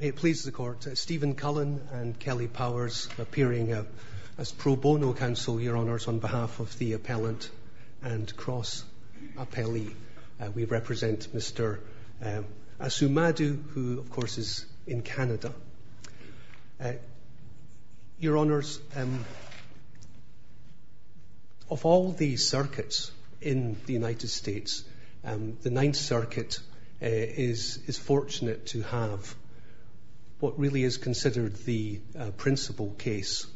May it please the Court, Stephen Cullen and Kelly Powers appearing as pro bono counsel, Your Honours, on behalf of the appellant and cross-appellee. We represent Mr. Asumadu, who of course is in Canada. Your Honours, of all the circuits in the United States, the Ninth Circuit is fortunate to have what really is considered the principal case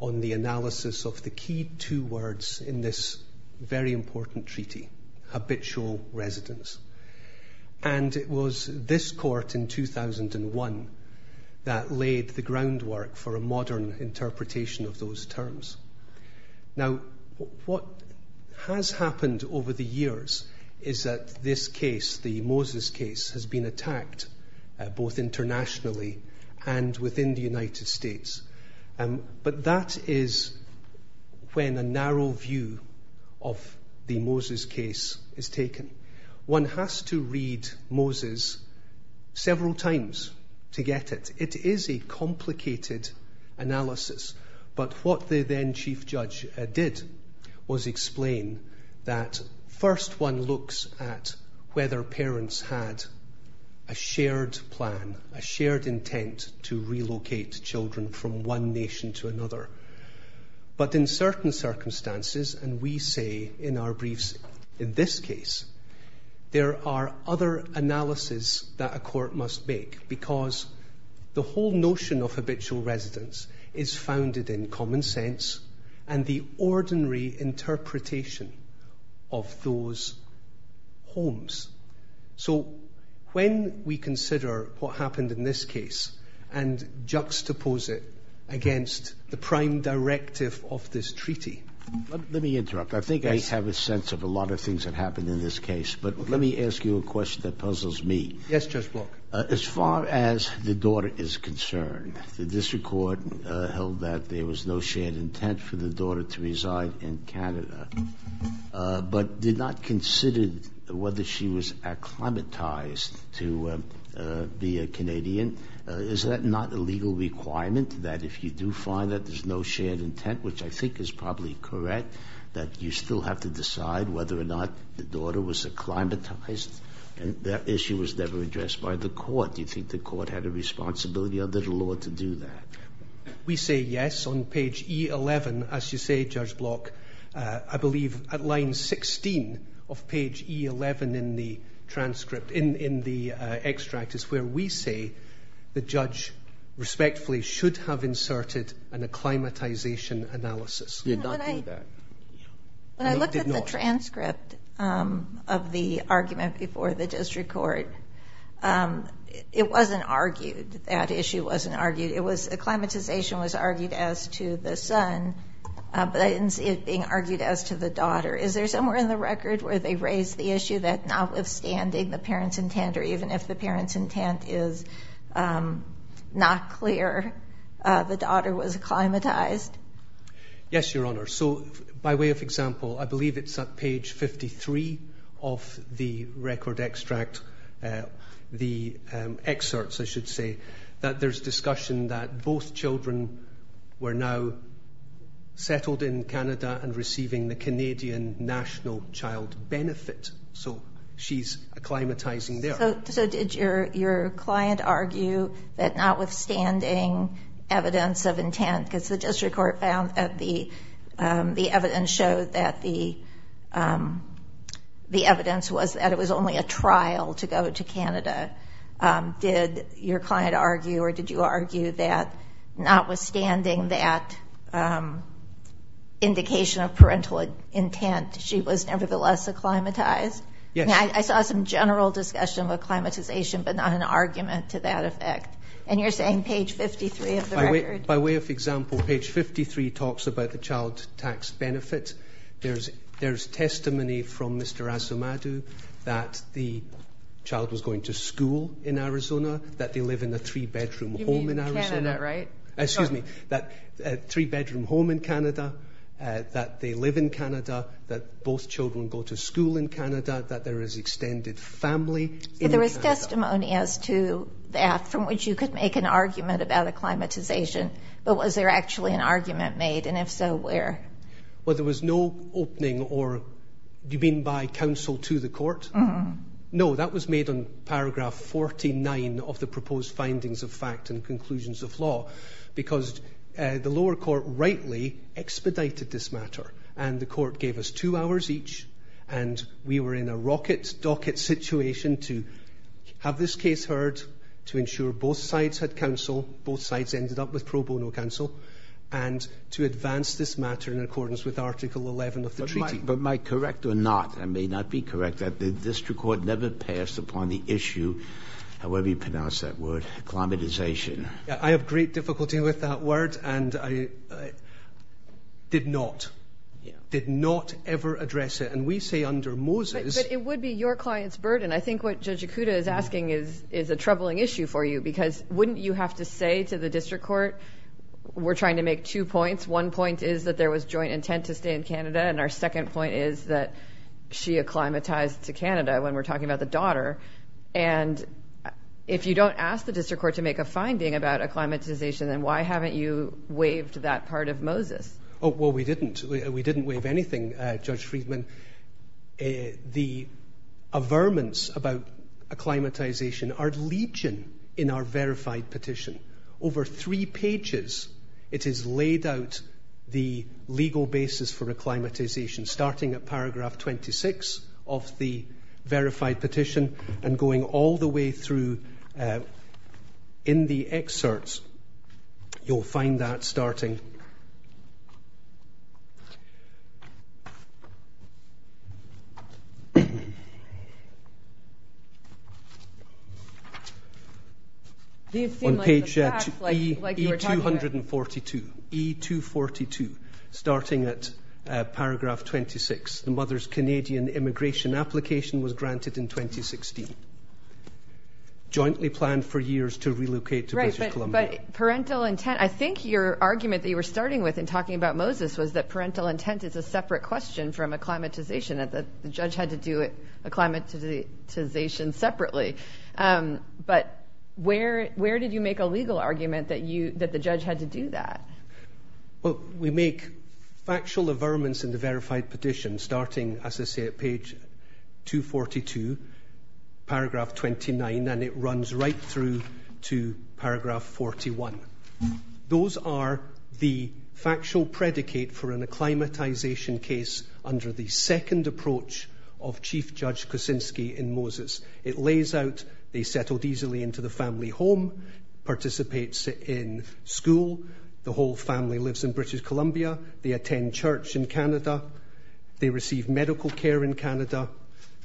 on the analysis of the key two words in this very important treaty, habitual residence. And it was this court in 2001 that laid the groundwork for a modern interpretation of those terms. Now, what has happened over the years is that this case, the Moses case, has been attacked both internationally and within the United States. But that is when a narrow view of the Moses case is taken. One has to read Moses several times to get it. It is a complicated analysis. But what the then Chief Judge did was explain that first one looks at whether parents had a shared plan, a shared intent to relocate children from one nation to another. But in certain circumstances, and we say in our briefs in this case, there are other analyses that a court must make because the whole notion of habitual residence is founded in common sense and the ordinary interpretation of those homes. So when we consider what happened in this case and juxtapose it against the prime directive of this treaty. Let me interrupt. I think I have a sense of a lot of things that happened in this case. But let me ask you a question that puzzles me. Yes, Judge Walker. As far as the daughter is concerned, the district court held that there was no shared intent for the daughter to reside in Canada, but did not consider whether she was acclimatized to be a Canadian. Is that not a legal requirement that if you do find that there's no shared intent, which I think is probably correct, that you still have to decide whether or not the daughter was acclimatized? And that issue was never addressed by the court. Do you think the court had a responsibility under the law to do that? We say yes on page E11, as you say, Judge Block. I believe at line 16 of page E11 in the transcript, in the extract, is where we say the judge respectfully should have inserted an acclimatization analysis. When I looked at the transcript of the argument before the district court, it wasn't argued. That issue wasn't argued. Acclimatization was argued as to the son, but I didn't see it being argued as to the daughter. Is there somewhere in the record where they raised the issue that notwithstanding the parents' intent, or even if the parents' intent is not clear, the daughter was acclimatized? Yes, Your Honor. So, by way of example, I believe it's at page 53 of the record extract, the excerpts, I should say, that there's discussion that both children were now settled in Canada and receiving the Canadian National Child Benefit. So, she's acclimatizing there. So, did your client argue that notwithstanding evidence of intent, because the district court found that the evidence showed that the evidence was that it was only a trial to go to Canada. Did your client argue, or did you argue that notwithstanding that indication of parental intent, she was nevertheless acclimatized? Yes. I saw some general discussion about acclimatization, but not an argument to that effect. And you're saying page 53 of the record? By way of example, page 53 talks about the child tax benefits. There's testimony from Mr. Asomadu that the child was going to school in Arizona, that they live in a three-bedroom home in Arizona. You mean Canada, right? Excuse me, that three-bedroom home in Canada, that they live in Canada, that both children go to school in Canada, that there is extended family in Canada. There was testimony as to that, from which you could make an argument about acclimatization, but was there actually an argument made? And if so, where? Well, there was no opening, or do you mean by counsel to the court? No, that was made on the proposed findings of fact and conclusions of law, because the lower court rightly expedited this matter, and the court gave us two hours each, and we were in a rocket docket situation to have this case heard, to ensure both sides had counsel, both sides ended up with pro bono counsel, and to advance this matter in accordance with Article 11 of the treaty. But am I correct or not, I may not be correct, that the district court never passed upon the issue, however you pronounce that word, acclimatization? I have great difficulty with that word, and I did not, did not ever address it, and we say under Moses... But it would be your client's burden. I think what Judge Ikuda is asking is a troubling issue for you, because wouldn't you have to say to the district court, we're trying to make two points, one point is that there was joint intent to stay in Canada, and our second point is that she acclimatized to Canada, when we're talking about the daughter, and if you don't ask the district court to make a finding about acclimatization, then why haven't you waived that part of Moses? Oh, well, we didn't, we didn't waive anything, Judge Friedman. The averments about acclimatization are leeching in our verified petition. Over three pages, it is laid out the legal basis for acclimatization, starting at paragraph 26 of the verified petition, and going all the way through in the excerpts, you'll find that starting on page 242, starting at paragraph 26, the mother's Canadian immigration application was granted in 2016, jointly planned for years to relocate to British Columbia. But parental intent, I think your argument that you were starting with in talking about Moses was that parental intent is a separate question from acclimatization, that the judge had to do it, acclimatization separately, but where, where did you make a legal argument that you, that the judge had to do that? Well, we make factual averments in the verified petition, starting, as I say, at page 242, paragraph 29, and it runs right through to paragraph 41. Those are the factual predicate for an acclimatization case under the second approach of Chief Judge Kosinski in Moses. It lays out, they settled easily into the family home, participates in school, the whole family lives in British Columbia, they attend church in Canada, they receive medical care in Canada,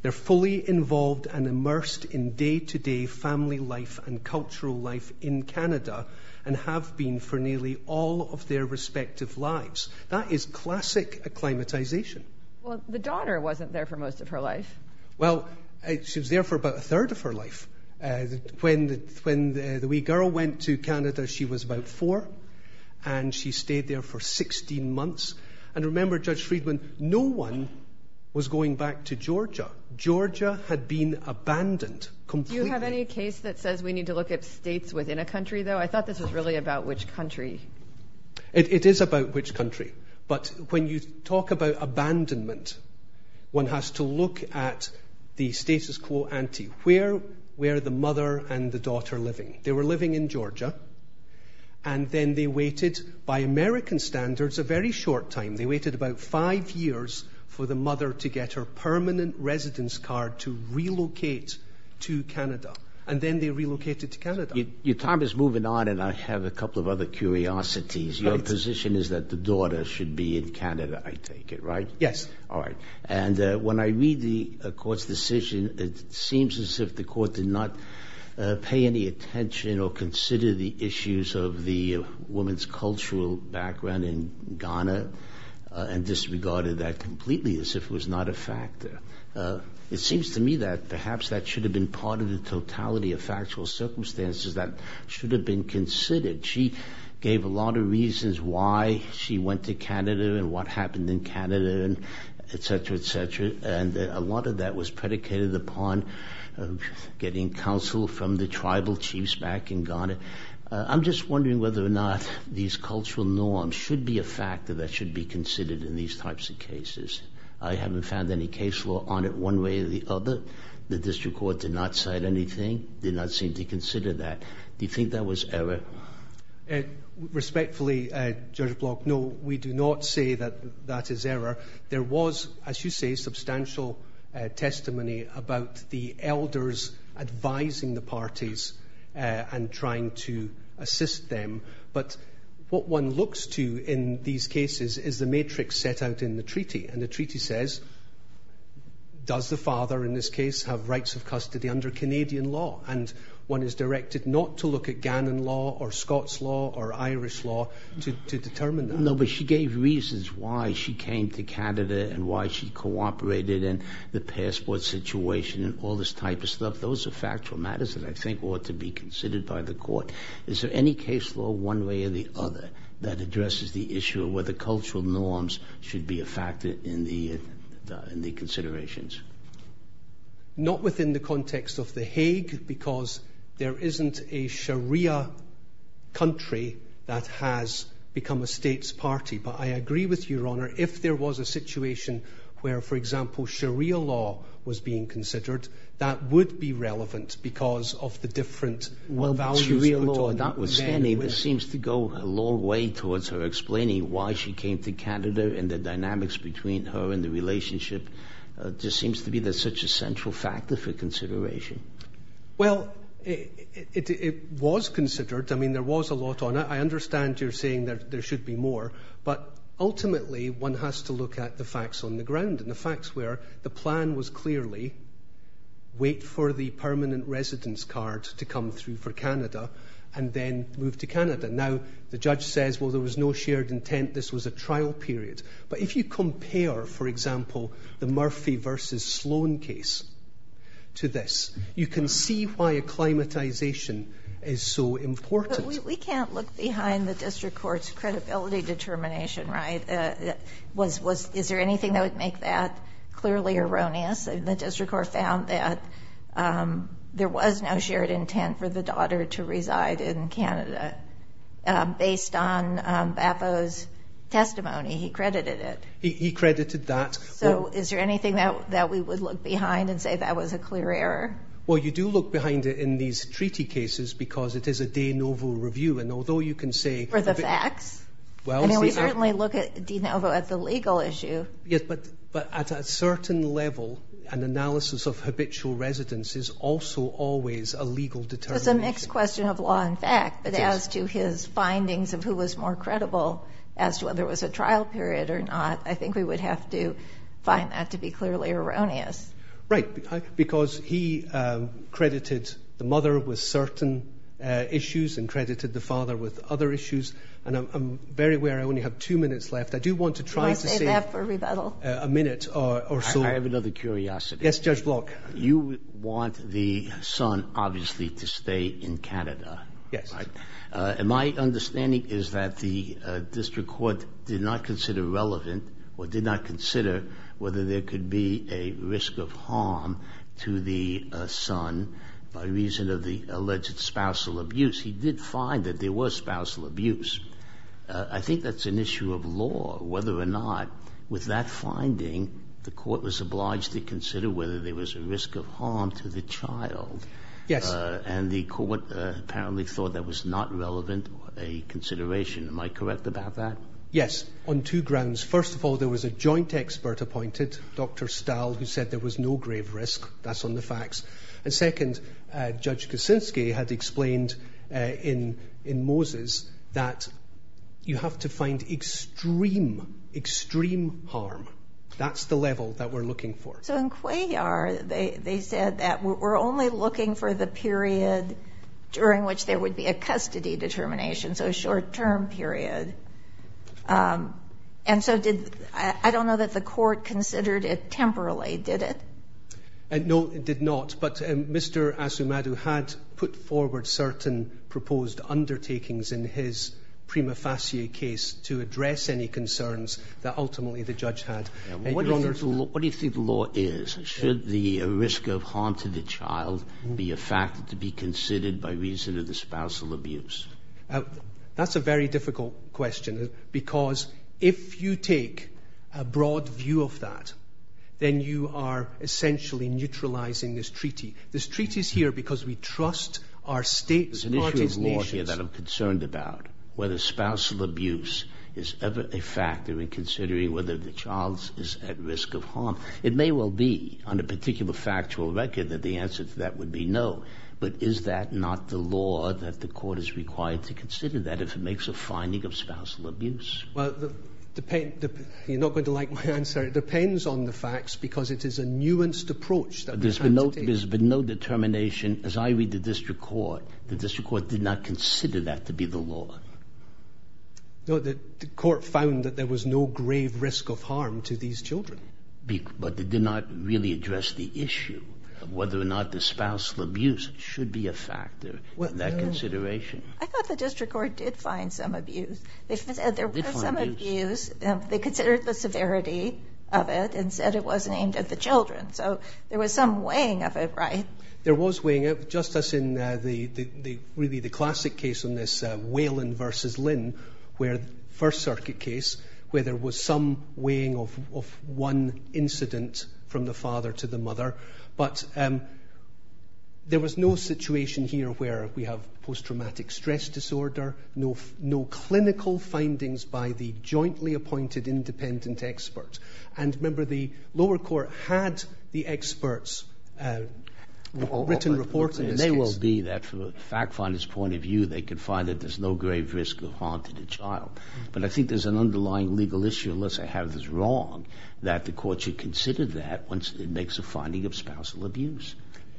they're fully involved and immersed in day-to-day family life and cultural life in Canada, and have been for nearly all of their respective lives. That is classic acclimatization. Well, the daughter wasn't there for most of her life. Well, she was there for about a third of her life. When the wee girl went to Canada, she was about four, and she stayed there for 16 months. And remember, Judge Friedman, no one was going back to Georgia. Georgia had been abandoned completely. Do you have any case that says we need to look at states within a country, though? I thought this was really about which country. It is about which country. But when you talk about abandonment, one has to look at the status quo ante, where are the mother and the daughter living? They were living in Georgia, and then they waited, by American standards, a very short time. They waited about five years for the mother to get her permanent residence card to relocate to Canada. And then they relocated to Canada. Your time is moving on, and I have a couple of other curiosities. Your position is that the daughter should be in Canada, I take it, right? Yes. All right. And when I read the court's decision, it seems as if the court did not pay any attention or consider the issues of the woman's cultural background in Ghana and disregarded that completely, as if it was not a factor. It seems to me that perhaps that should have been part of the totality of factual circumstances that should have been considered. She gave a lot of reasons why she went to Canada and what happened in Canada and and a lot of that was predicated upon getting counsel from the tribal chiefs back in Ghana. I'm just wondering whether or not these cultural norms should be a factor that should be considered in these types of cases. I haven't found any case law on it one way or the other. The district court did not cite anything, did not seem to consider that. Do you think that was error? Respectfully, Judge Block, no, we do not say that that is error. There was, as you say, substantial testimony about the elders advising the parties and trying to assist them. But what one looks to in these cases is the matrix set out in the treaty. And the treaty says, does the father in this case have rights of custody under Canadian law? And one is directed not to look at Ghanan law or Scots law or Irish law to determine that. No, but she gave reasons why she came to Canada and why she cooperated and the passport situation and all this type of stuff. Those are factual matters that I think ought to be considered by the court. Is there any case law one way or the other that addresses the issue of whether cultural norms should be a factor in the considerations? Not within the context of the Hague, because there isn't a Sharia country that has become a state's party. But I agree with you, Your Honour, if there was a situation where, for example, Sharia law was being considered, that would be relevant because of the different values put on it. Sharia law, that was handy, but seems to go a long way towards her she came to Canada and the dynamics between her and the relationship just seems to be such a central factor for consideration. Well, it was considered. I mean, there was a lot on it. I understand you're saying that there should be more, but ultimately one has to look at the facts on the ground and the facts where the plan was clearly, wait for the permanent residence card to come through for Canada and then move to Canada. Now, the judge says, well, there was no intent, this was a trial period. But if you compare, for example, the Murphy v. Sloan case to this, you can see why acclimatization is so important. But we can't look behind the District Court's credibility determination, right? Is there anything that would make that clearly erroneous? The District Court found that there was no shared intent for the daughter to testimony. He credited it. He credited that. So is there anything that we would look behind and say that was a clear error? Well, you do look behind it in these treaty cases because it is a de novo review. And although you can say- For the facts? I mean, we certainly look at de novo at the legal issue. Yes, but at a certain level, an analysis of habitual residence is also always a legal determination. So it's a mixed question of law and fact. But as to his findings of who was more credible as to whether it was a trial period or not, I think we would have to find that to be clearly erroneous. Right. Because he credited the mother with certain issues and credited the father with other issues. And I'm very aware I only have two minutes left. I do want to try to save- You want to save that for rebuttal? A minute or so. I have another curiosity. Yes, Judge Block. You want the son, obviously, to stay in Canada. Yes. And my understanding is that the district court did not consider relevant or did not consider whether there could be a risk of harm to the son by reason of the alleged spousal abuse. He did find that there was spousal abuse. I think that's an issue of law, whether or not with that finding, the court was obliged to risk of harm to the child. Yes. And the court apparently thought that was not relevant a consideration. Am I correct about that? Yes. On two grounds. First of all, there was a joint expert appointed, Dr. Stahl, who said there was no grave risk. That's on the facts. And second, Judge Kuczynski had explained in Moses that you have to find extreme, extreme harm. That's the they said that we're only looking for the period during which there would be a custody determination, so a short-term period. And so did- I don't know that the court considered it temporally, did it? No, it did not. But Mr. Asumadu had put forward certain proposed undertakings in his prima facie case to address any concerns that ultimately the judge had. What do you think the law is? Should the risk of harm to the child be a factor to be considered by reason of the spousal abuse? That's a very difficult question, because if you take a broad view of that, then you are essentially neutralizing this treaty. This treaty is here because we trust our states, parties, nations- There's an issue of law here that I'm concerned about, whether spousal abuse is ever a factor in considering whether the child is at risk of harm. It may well be, on a particular factual record, that the answer to that would be no. But is that not the law that the court is required to consider, that if it makes a finding of spousal abuse? Well, you're not going to like my answer. It depends on the facts, because it is a nuanced approach that- There's been no determination. As I read the district court, the district court did not consider that to be the law. No, the court found that there was no grave risk of harm to these children. But they did not really address the issue of whether or not the spousal abuse should be a factor in that consideration. I thought the district court did find some abuse. They considered the severity of it and said it wasn't aimed at the children, so there was some Just as in really the classic case on this, Whelan versus Lynn, First Circuit case, where there was some weighing of one incident from the father to the mother. But there was no situation here where we have post-traumatic stress disorder, no clinical findings by the jointly appointed independent experts. And remember, the lower court had the experts' written report in this case. It may well be that from a fact finder's point of view, they can find that there's no grave risk of harm to the child. But I think there's an underlying legal issue, unless I have this wrong, that the court should consider that once it makes a finding of spousal abuse.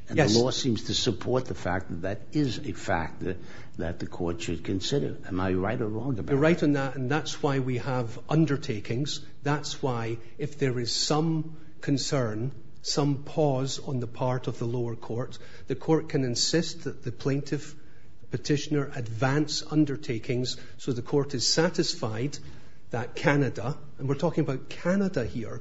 And the law seems to support the fact that that is a factor that the court should consider. Am I right or wrong about that? You're right on that, and that's why we have undertakings. That's why, if there is some concern, some pause on the part of the lower court, the court can insist that the plaintiff petitioner advance undertakings, so the court is satisfied that Canada, and we're talking about Canada here,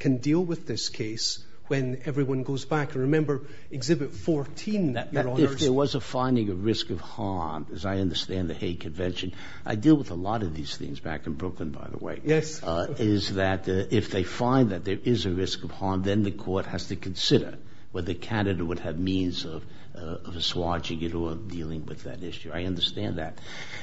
can deal with this case when everyone goes back. And remember, Exhibit 14, Your Honours... If there was a finding of risk of harm, as I understand the Hague Convention, I deal with a lot of these things back in Brooklyn, by the way. Yes. Is that if they find that there is a risk of harm, then the court has to consider whether Canada would have means of assuaging it or dealing with that issue. I understand that.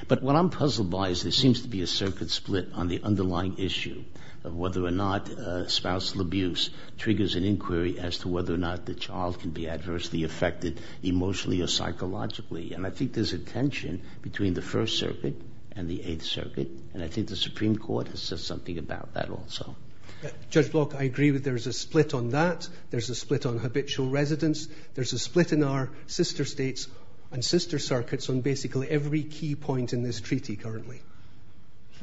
But what I'm puzzled by is there seems to be a circuit split on the underlying issue of whether or not spousal abuse triggers an inquiry as to whether or not the child can be adversely affected emotionally or psychologically. And I think there's a tension between the First Circuit and the Eighth Circuit, and I think the Supreme Court has said something about that also. Judge Block, I agree that there's a split on that. There's a split on habitual residence. There's a split in our sister states and sister circuits on basically every key point in this treaty currently.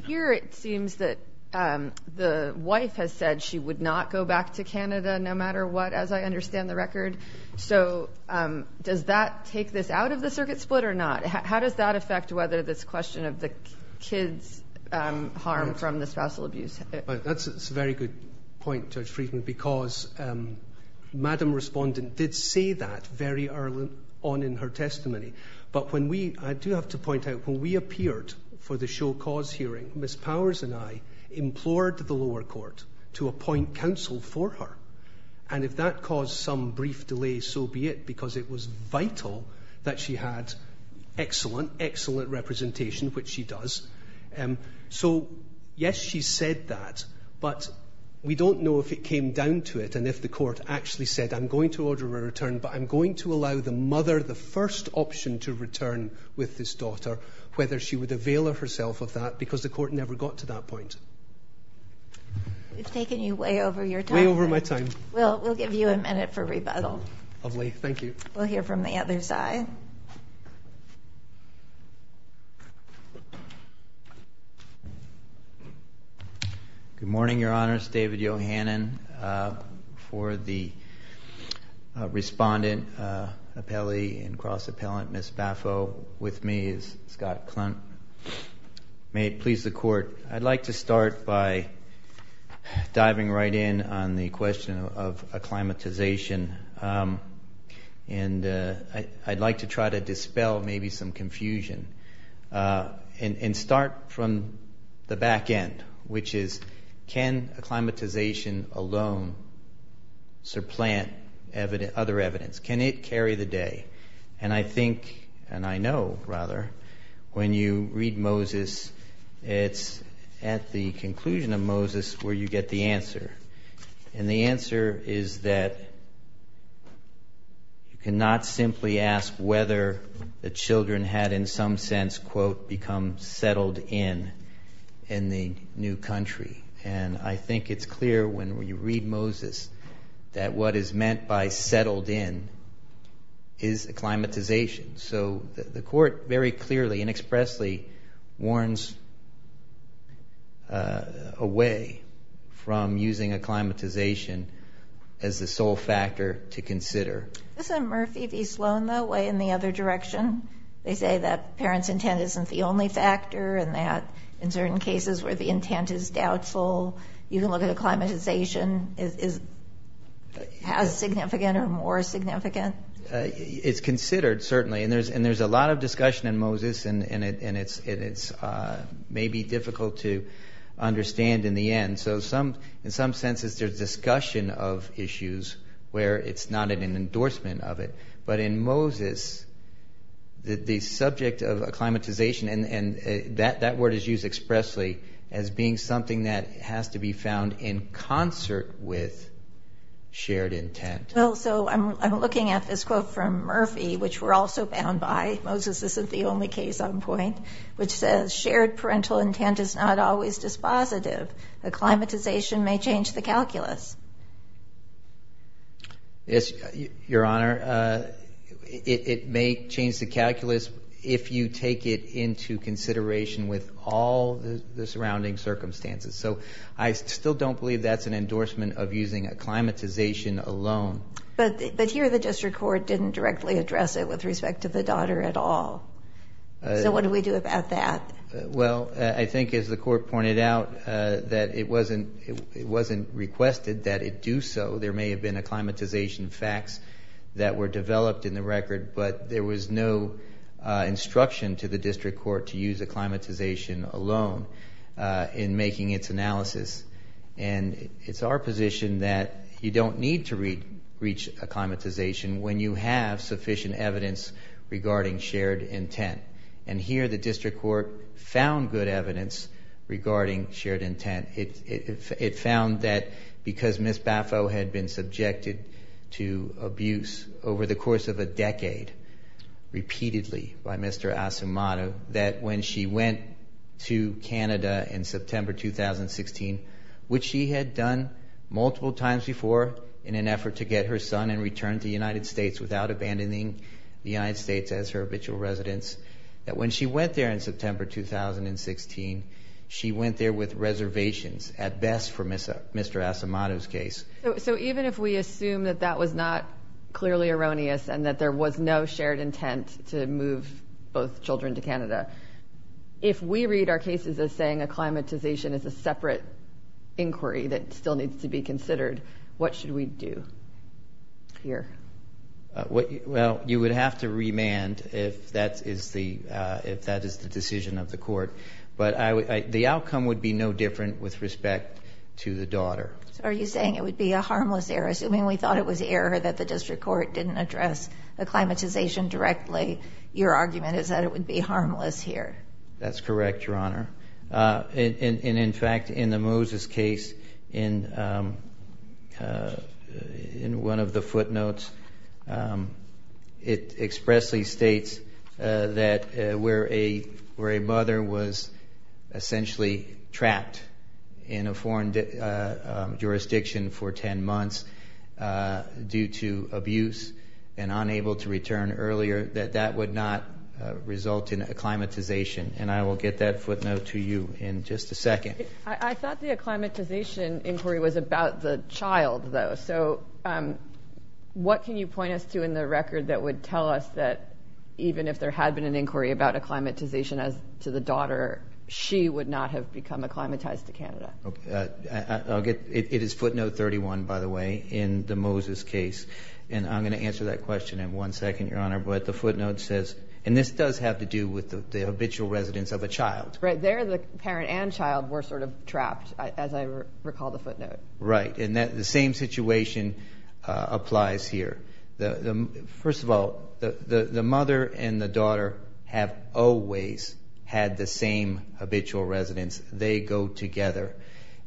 Here, it seems that the wife has said she would not go back to Canada no matter what, as I understand the record. So does that take this out of the circuit split or not? How does that affect whether this question of the kids' harm from the spousal abuse? That's a very good point, Judge Friedman, because Madam Respondent did say that very early on in her testimony. But when we, I do have to point out, when we appeared for the show cause hearing, Ms Powers and I implored the lower court to appoint counsel for her. And if that caused some brief delay, so be it, because it was vital that she had excellent, excellent representation, which she does. So yes, she said that, but we don't know if it came down to it and if the court actually said, I'm going to order a return, but I'm going to allow the mother the first option to return with this daughter, whether she would avail herself of that, because the court never got to that point. We've taken you way over your time. Way over my time. Well, we'll give you a minute for rebuttal. Lovely, thank you. We'll hear from the other side. Good morning, Your Honours. David Yohannan for the with me is Scott Clunt. May it please the court. I'd like to start by diving right in on the question of acclimatization. And I'd like to try to dispel maybe some confusion and start from the back end, which is, can acclimatization alone supplant other evidence? Can it carry the day? And I think, and I know rather, when you read Moses, it's at the conclusion of Moses where you get the answer. And the answer is that you cannot simply ask whether the children had in some sense, quote, become settled in, in the new country. And I think it's clear when you read Moses that what is meant by settled in is acclimatization. So the court very clearly and expressly warns away from using acclimatization as the sole factor to consider. Doesn't Murphy v. Sloan, though, weigh in the other direction? They say that parents' intent isn't the only factor and that in certain cases where the intent is doubtful, you can look at acclimatization as significant or more significant. It's considered, certainly, and there's a lot of discussion in Moses and it's maybe difficult to understand in the end. So in some senses, there's discussion of issues where it's not an endorsement of it. But in Moses, the subject of acclimatization, and that word is used expressly as being something that has to be found in concert with shared intent. Well, so I'm looking at this quote from Murphy, which we're also bound by, Moses isn't the only case on point, which says shared parental intent is not always dispositive. Acclimatization may change the calculus. Yes, Your Honor, it may change the calculus if you take it into consideration with all the surrounding circumstances. So I still don't believe that's an endorsement of using acclimatization alone. But here the district court didn't directly address it with respect to the daughter at all. So what do we do about that? Well, I think, as the court pointed out, that it wasn't requested that it do so. There may have been acclimatization facts that were developed in the record, but there was no instruction to the district court to use acclimatization alone in making its analysis. And it's our position that you don't need to reach acclimatization when you have sufficient evidence regarding shared intent. And here the district court found good evidence regarding shared intent. It found that because Ms. Baffo had been subjected to abuse over the course of a decade, repeatedly, by Mr. Asomato, that when she went to Canada in September 2016, which she had done multiple times before in an effort to get her son and return to the United States without abandoning the United States as her habitual residence, that when she went there in September 2016, she went there with reservations, at best for Mr. Asomato's case. So even if we assume that that was not clearly erroneous and that there was no shared intent to move both children to Canada, if we read our cases as saying acclimatization is a separate inquiry that still needs to be considered, what should we do here? Well, you would have to remand if that is the decision of the court. But the outcome would be no different with respect to the daughter. So are you saying it would be a harmless error? Assuming we thought it was error that the district court didn't address acclimatization directly, your argument is that it would be harmless here. That's correct, Your Honor. And in fact, in the Moses case, in one of the footnotes, it expressly states that where a mother was essentially trapped in a foreign jurisdiction for 10 months due to abuse and unable to return earlier, that that would not result in acclimatization. And I will get that footnote to you in just a second. I thought the acclimatization inquiry was about the child, though. So what can you point us to in the record that would tell us that even if there had been an inquiry about acclimatization as to the daughter, she would not have become acclimatized to Canada? It is footnote 31, by the way, in the Moses case. And I'm going to answer that question in one second, Your Honor. But the footnote says, and this does have to do with the habitual residence of a child. Right there, the parent and child were sort of trapped, as I recall the footnote. Right. And the same situation applies here. First of all, the mother and the daughter have always had the same habitual residence. They go together.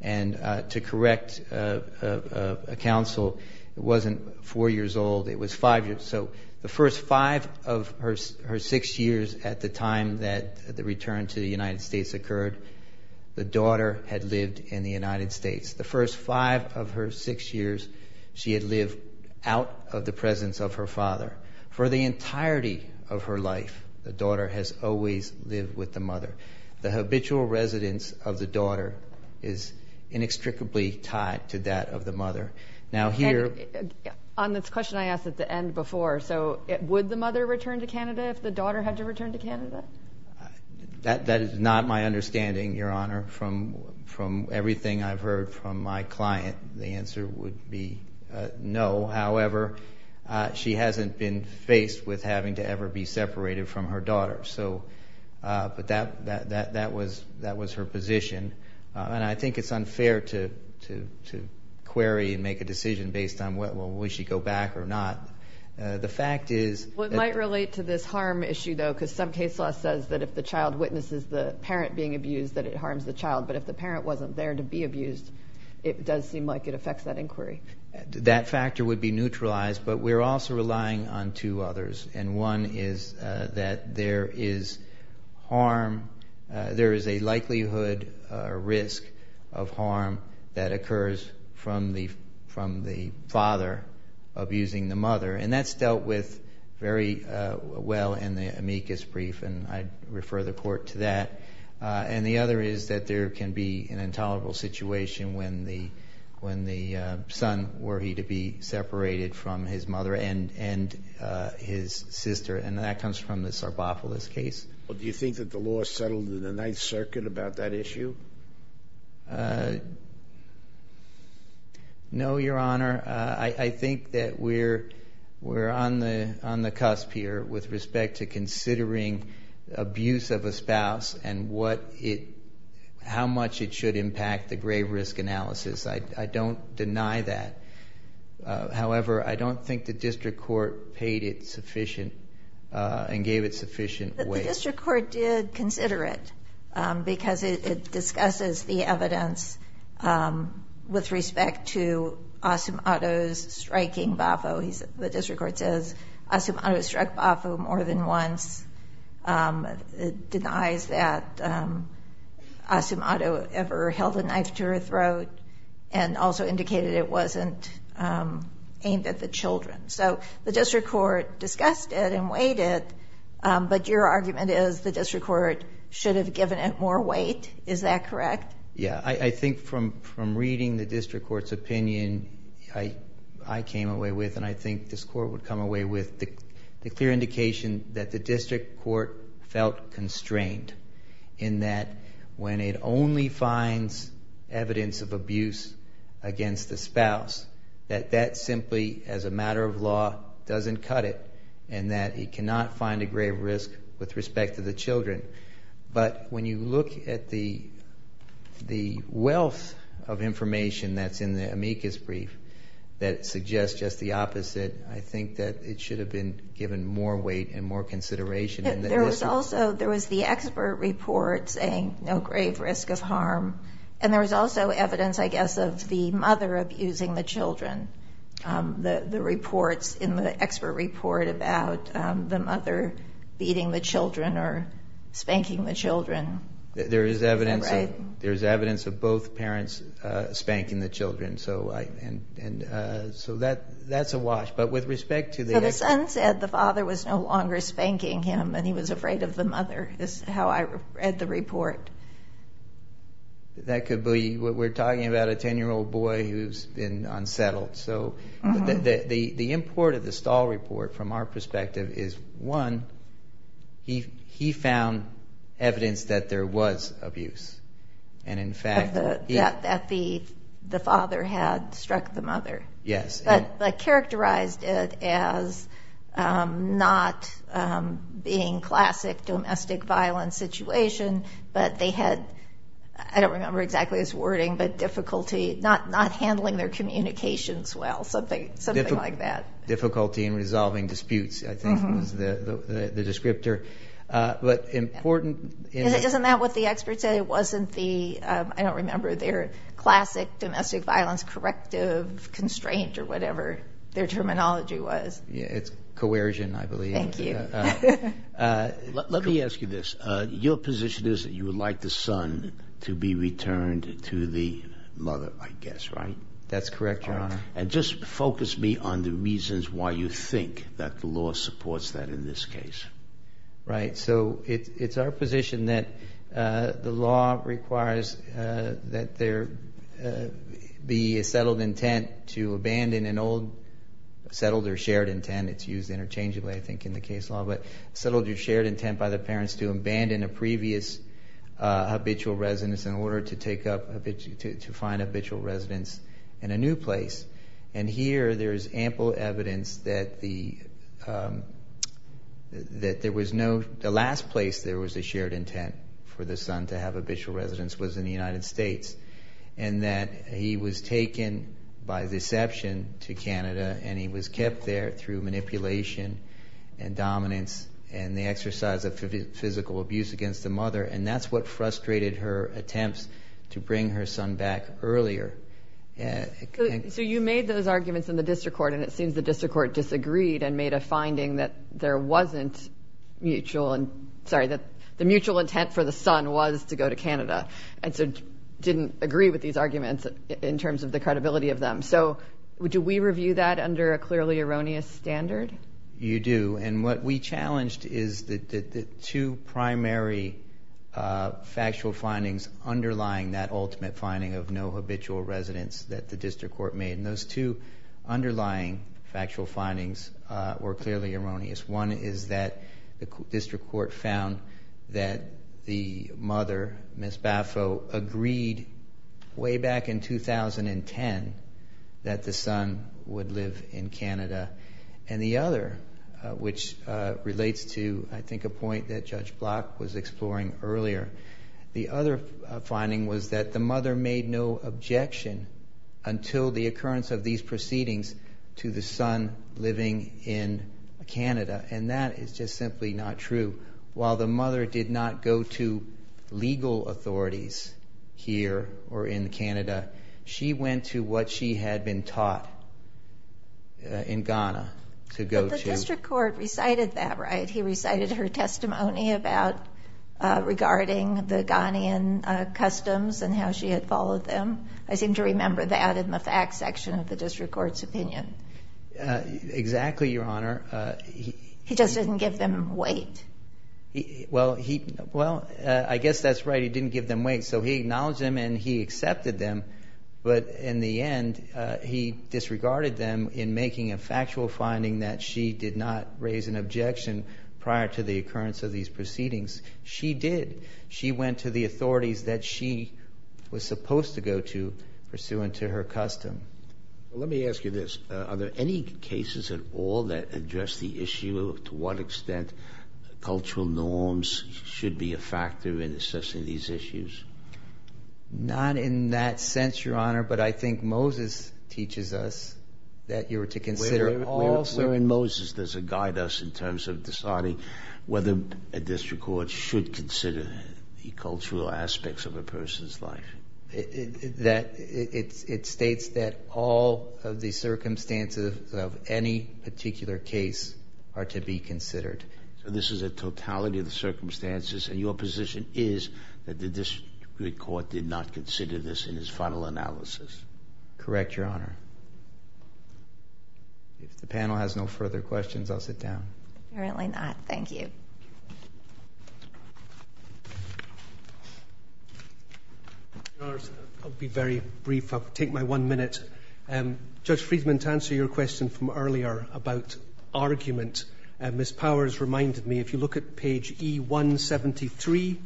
And to correct a counsel, it wasn't four years old, it was five years. So the first five of her six years at the time that the return to the United States occurred, the daughter had lived in the United States. The first five of her six years, she had lived out of the presence of her father. For the entirety of her life, the daughter has always lived with the mother. The habitual residence of the daughter is inextricably tied to that of the mother. Now here... On this question I asked at the end before, so would the mother return to Canada if the daughter had to return to Canada? That is not my understanding, Your Honor, from everything I've heard from my client. The answer would be no. However, she hasn't been faced with having to ever be separated from her daughter. So, but that was her position. And I think it's unfair to query and make a decision based on will she go back or not. The fact is... It might relate to this harm issue though, because some case law says that if the child witnesses the parent being abused, that it harms the child. But if the parent wasn't there to be abused, it does seem like it affects that inquiry. That factor would be neutralized. But we're also relying on two others. And one is that there is harm... There is a likelihood risk of harm that occurs from the father abusing the mother. And that's dealt with very well in the amicus brief. And I refer the court to that. And the other is that there can be an intolerable situation when the son were he to be separated from his mother and his sister. And that comes from the Sarbopoulos case. Do you think that the law settled in the Ninth Circuit about that issue? No, Your Honor. I think that we're on the cusp here with respect to considering abuse of a spouse and how much it should impact the grave risk analysis. I don't deny that. However, I don't think the district court paid it sufficient and gave it sufficient weight. The district court did consider it because it discusses the evidence with respect to Asum Addo's striking Bafo. The district court says Asum Addo struck Bafo more than once. It denies that Asum Addo ever held a knife to her throat and also indicated it wasn't aimed at the children. So the district court discussed it and weighed it. But your argument is the district court should have given it more weight. Is that correct? Yeah. I think from reading the district court's opinion, I came away with, and I think this court would come away with, the clear indication that the district court felt constrained in that when it only finds evidence of abuse against the spouse, that that simply, as a matter of law, doesn't cut it and that it cannot find a grave risk with respect to the children. But when you look at the wealth of information that's in the amicus brief that suggests just the opposite, I think that it should have been given more weight and more consideration. There was the expert report saying no grave risk of harm. And there was also evidence, I guess, of the mother abusing the children. The reports in the expert report about the mother beating the children or spanking the children. There's evidence of both parents spanking the children. So that's a wash. But with respect to the... The son said the father was no longer spanking him and he was afraid of the mother, is how I read the report. That could be... We're talking about a 10-year-old boy who's been unsettled. So the import of the Stahl report, from our perspective, is one, he found evidence that there was abuse. And in fact... That the father had struck the mother. Yes. But characterized it as not being classic domestic violence situation, but they had, I don't remember exactly this wording, but difficulty not handling their communications well. Something like that. Difficulty in resolving disputes, I think was the descriptor. But important in... Isn't that what the expert said? It wasn't the, I don't remember, their classic domestic violence corrective constraint or whatever their terminology was. Yeah, it's coercion, I believe. Thank you. Let me ask you this. Your position is that you would like the son to be returned to the mother, I guess, right? That's correct, Your Honor. And just focus me on the reasons why you think that the law supports that in this case. Right. So it's our position that the law requires that there be a settled intent to abandon an old... Settled or shared intent. It's used interchangeably, I think, in the case law. Settled or shared intent by the parents to abandon a previous habitual residence in order to find habitual residence in a new place. And here there is ample evidence that the last place there was a shared intent for the son to have habitual residence was in the United States. And he was kept there through manipulation and dominance and the exercise of physical abuse against the mother. And that's what frustrated her attempts to bring her son back earlier. So you made those arguments in the district court, and it seems the district court disagreed and made a finding that there wasn't mutual... Sorry, that the mutual intent for the son was to go to Canada and so didn't agree with these arguments in terms of the credibility of them. So do we review that under a clearly erroneous standard? You do. And what we challenged is the two primary factual findings underlying that ultimate finding of no habitual residence that the district court made. And those two underlying factual findings were clearly erroneous. One is that the district court found that the mother, Miss Baffo, agreed way back in 2010 that the son would live in Canada. And the other, which relates to I think a point that Judge Block was exploring earlier, the other finding was that the mother made no objection until the occurrence of these proceedings to the son living in Canada. And that is just simply not true. While the mother did not go to legal authorities here or in Canada, she went to what she had been taught in Ghana to go to... But the district court recited that, right? He recited her testimony regarding the Ghanaian customs and how she had followed them. I seem to remember that in the facts section of the district court's opinion. Exactly, Your Honor. He just didn't give them weight. Well, he... Well, I guess that's right. He didn't give them weight. So he acknowledged them and he accepted them. But in the end, he disregarded them in making a factual finding that she did not raise an objection prior to the occurrence of these proceedings. She did. She went to the authorities that she was supposed to go to pursuant to her custom. Let me ask you this. Are there any cases at all that address the issue of to what extent cultural norms should be a factor in assessing these issues? Not in that sense, Your Honor. But I think Moses teaches us that you were to consider all... Where in Moses does it guide us in terms of deciding whether a district court should consider the cultural aspects of a person's life? That it states that all of the circumstances of any particular case are to be considered. So this is a totality of the circumstances and your position is that the district court did not consider this in his final analysis? Correct, Your Honor. If the panel has no further questions, I'll sit down. Apparently not. Thank you. I'll be very brief. I'll take my one minute. Judge Friedman, to answer your question from earlier about argument, Miss Powers reminded me if you look at page E173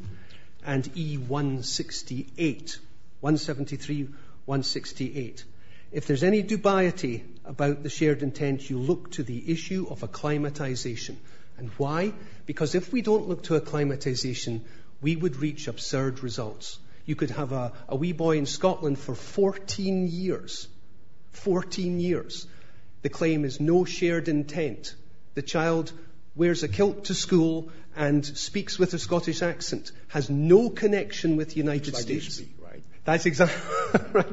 and E168, 173, 168, if there's any dubiety about the shared intent, you look to the issue of acclimatization. And why? Because if we don't look to acclimatization, we would reach absurd results. You could have a wee boy in Scotland for 14 years. 14 years. The claim is no shared intent. The child wears a kilt to school and speaks with a Scottish accent, has no connection with the United States. That's how you speak, right? That's exactly right.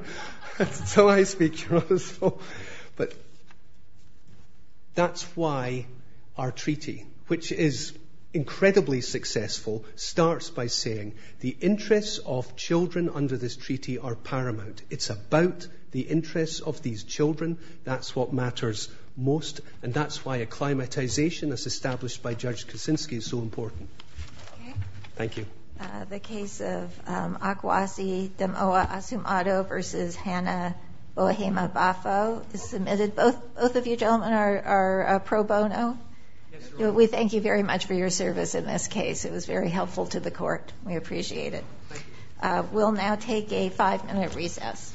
That's how I speak, Your Honor. But that's why our treaty, which is incredibly successful, starts by saying the interests of children under this treaty are paramount. It's about the interests of these children. That's what matters most. And that's why acclimatization, as established by Judge Kuczynski, is so important. Thank you. The case of Akwasi Demoa Asumado versus Hannah Boahema-Bafo, this is admitted both of you gentlemen are pro bono. Yes, Your Honor. We thank you very much for your service in this case. It was very helpful to the court. We appreciate it. We'll now take a five-minute recess.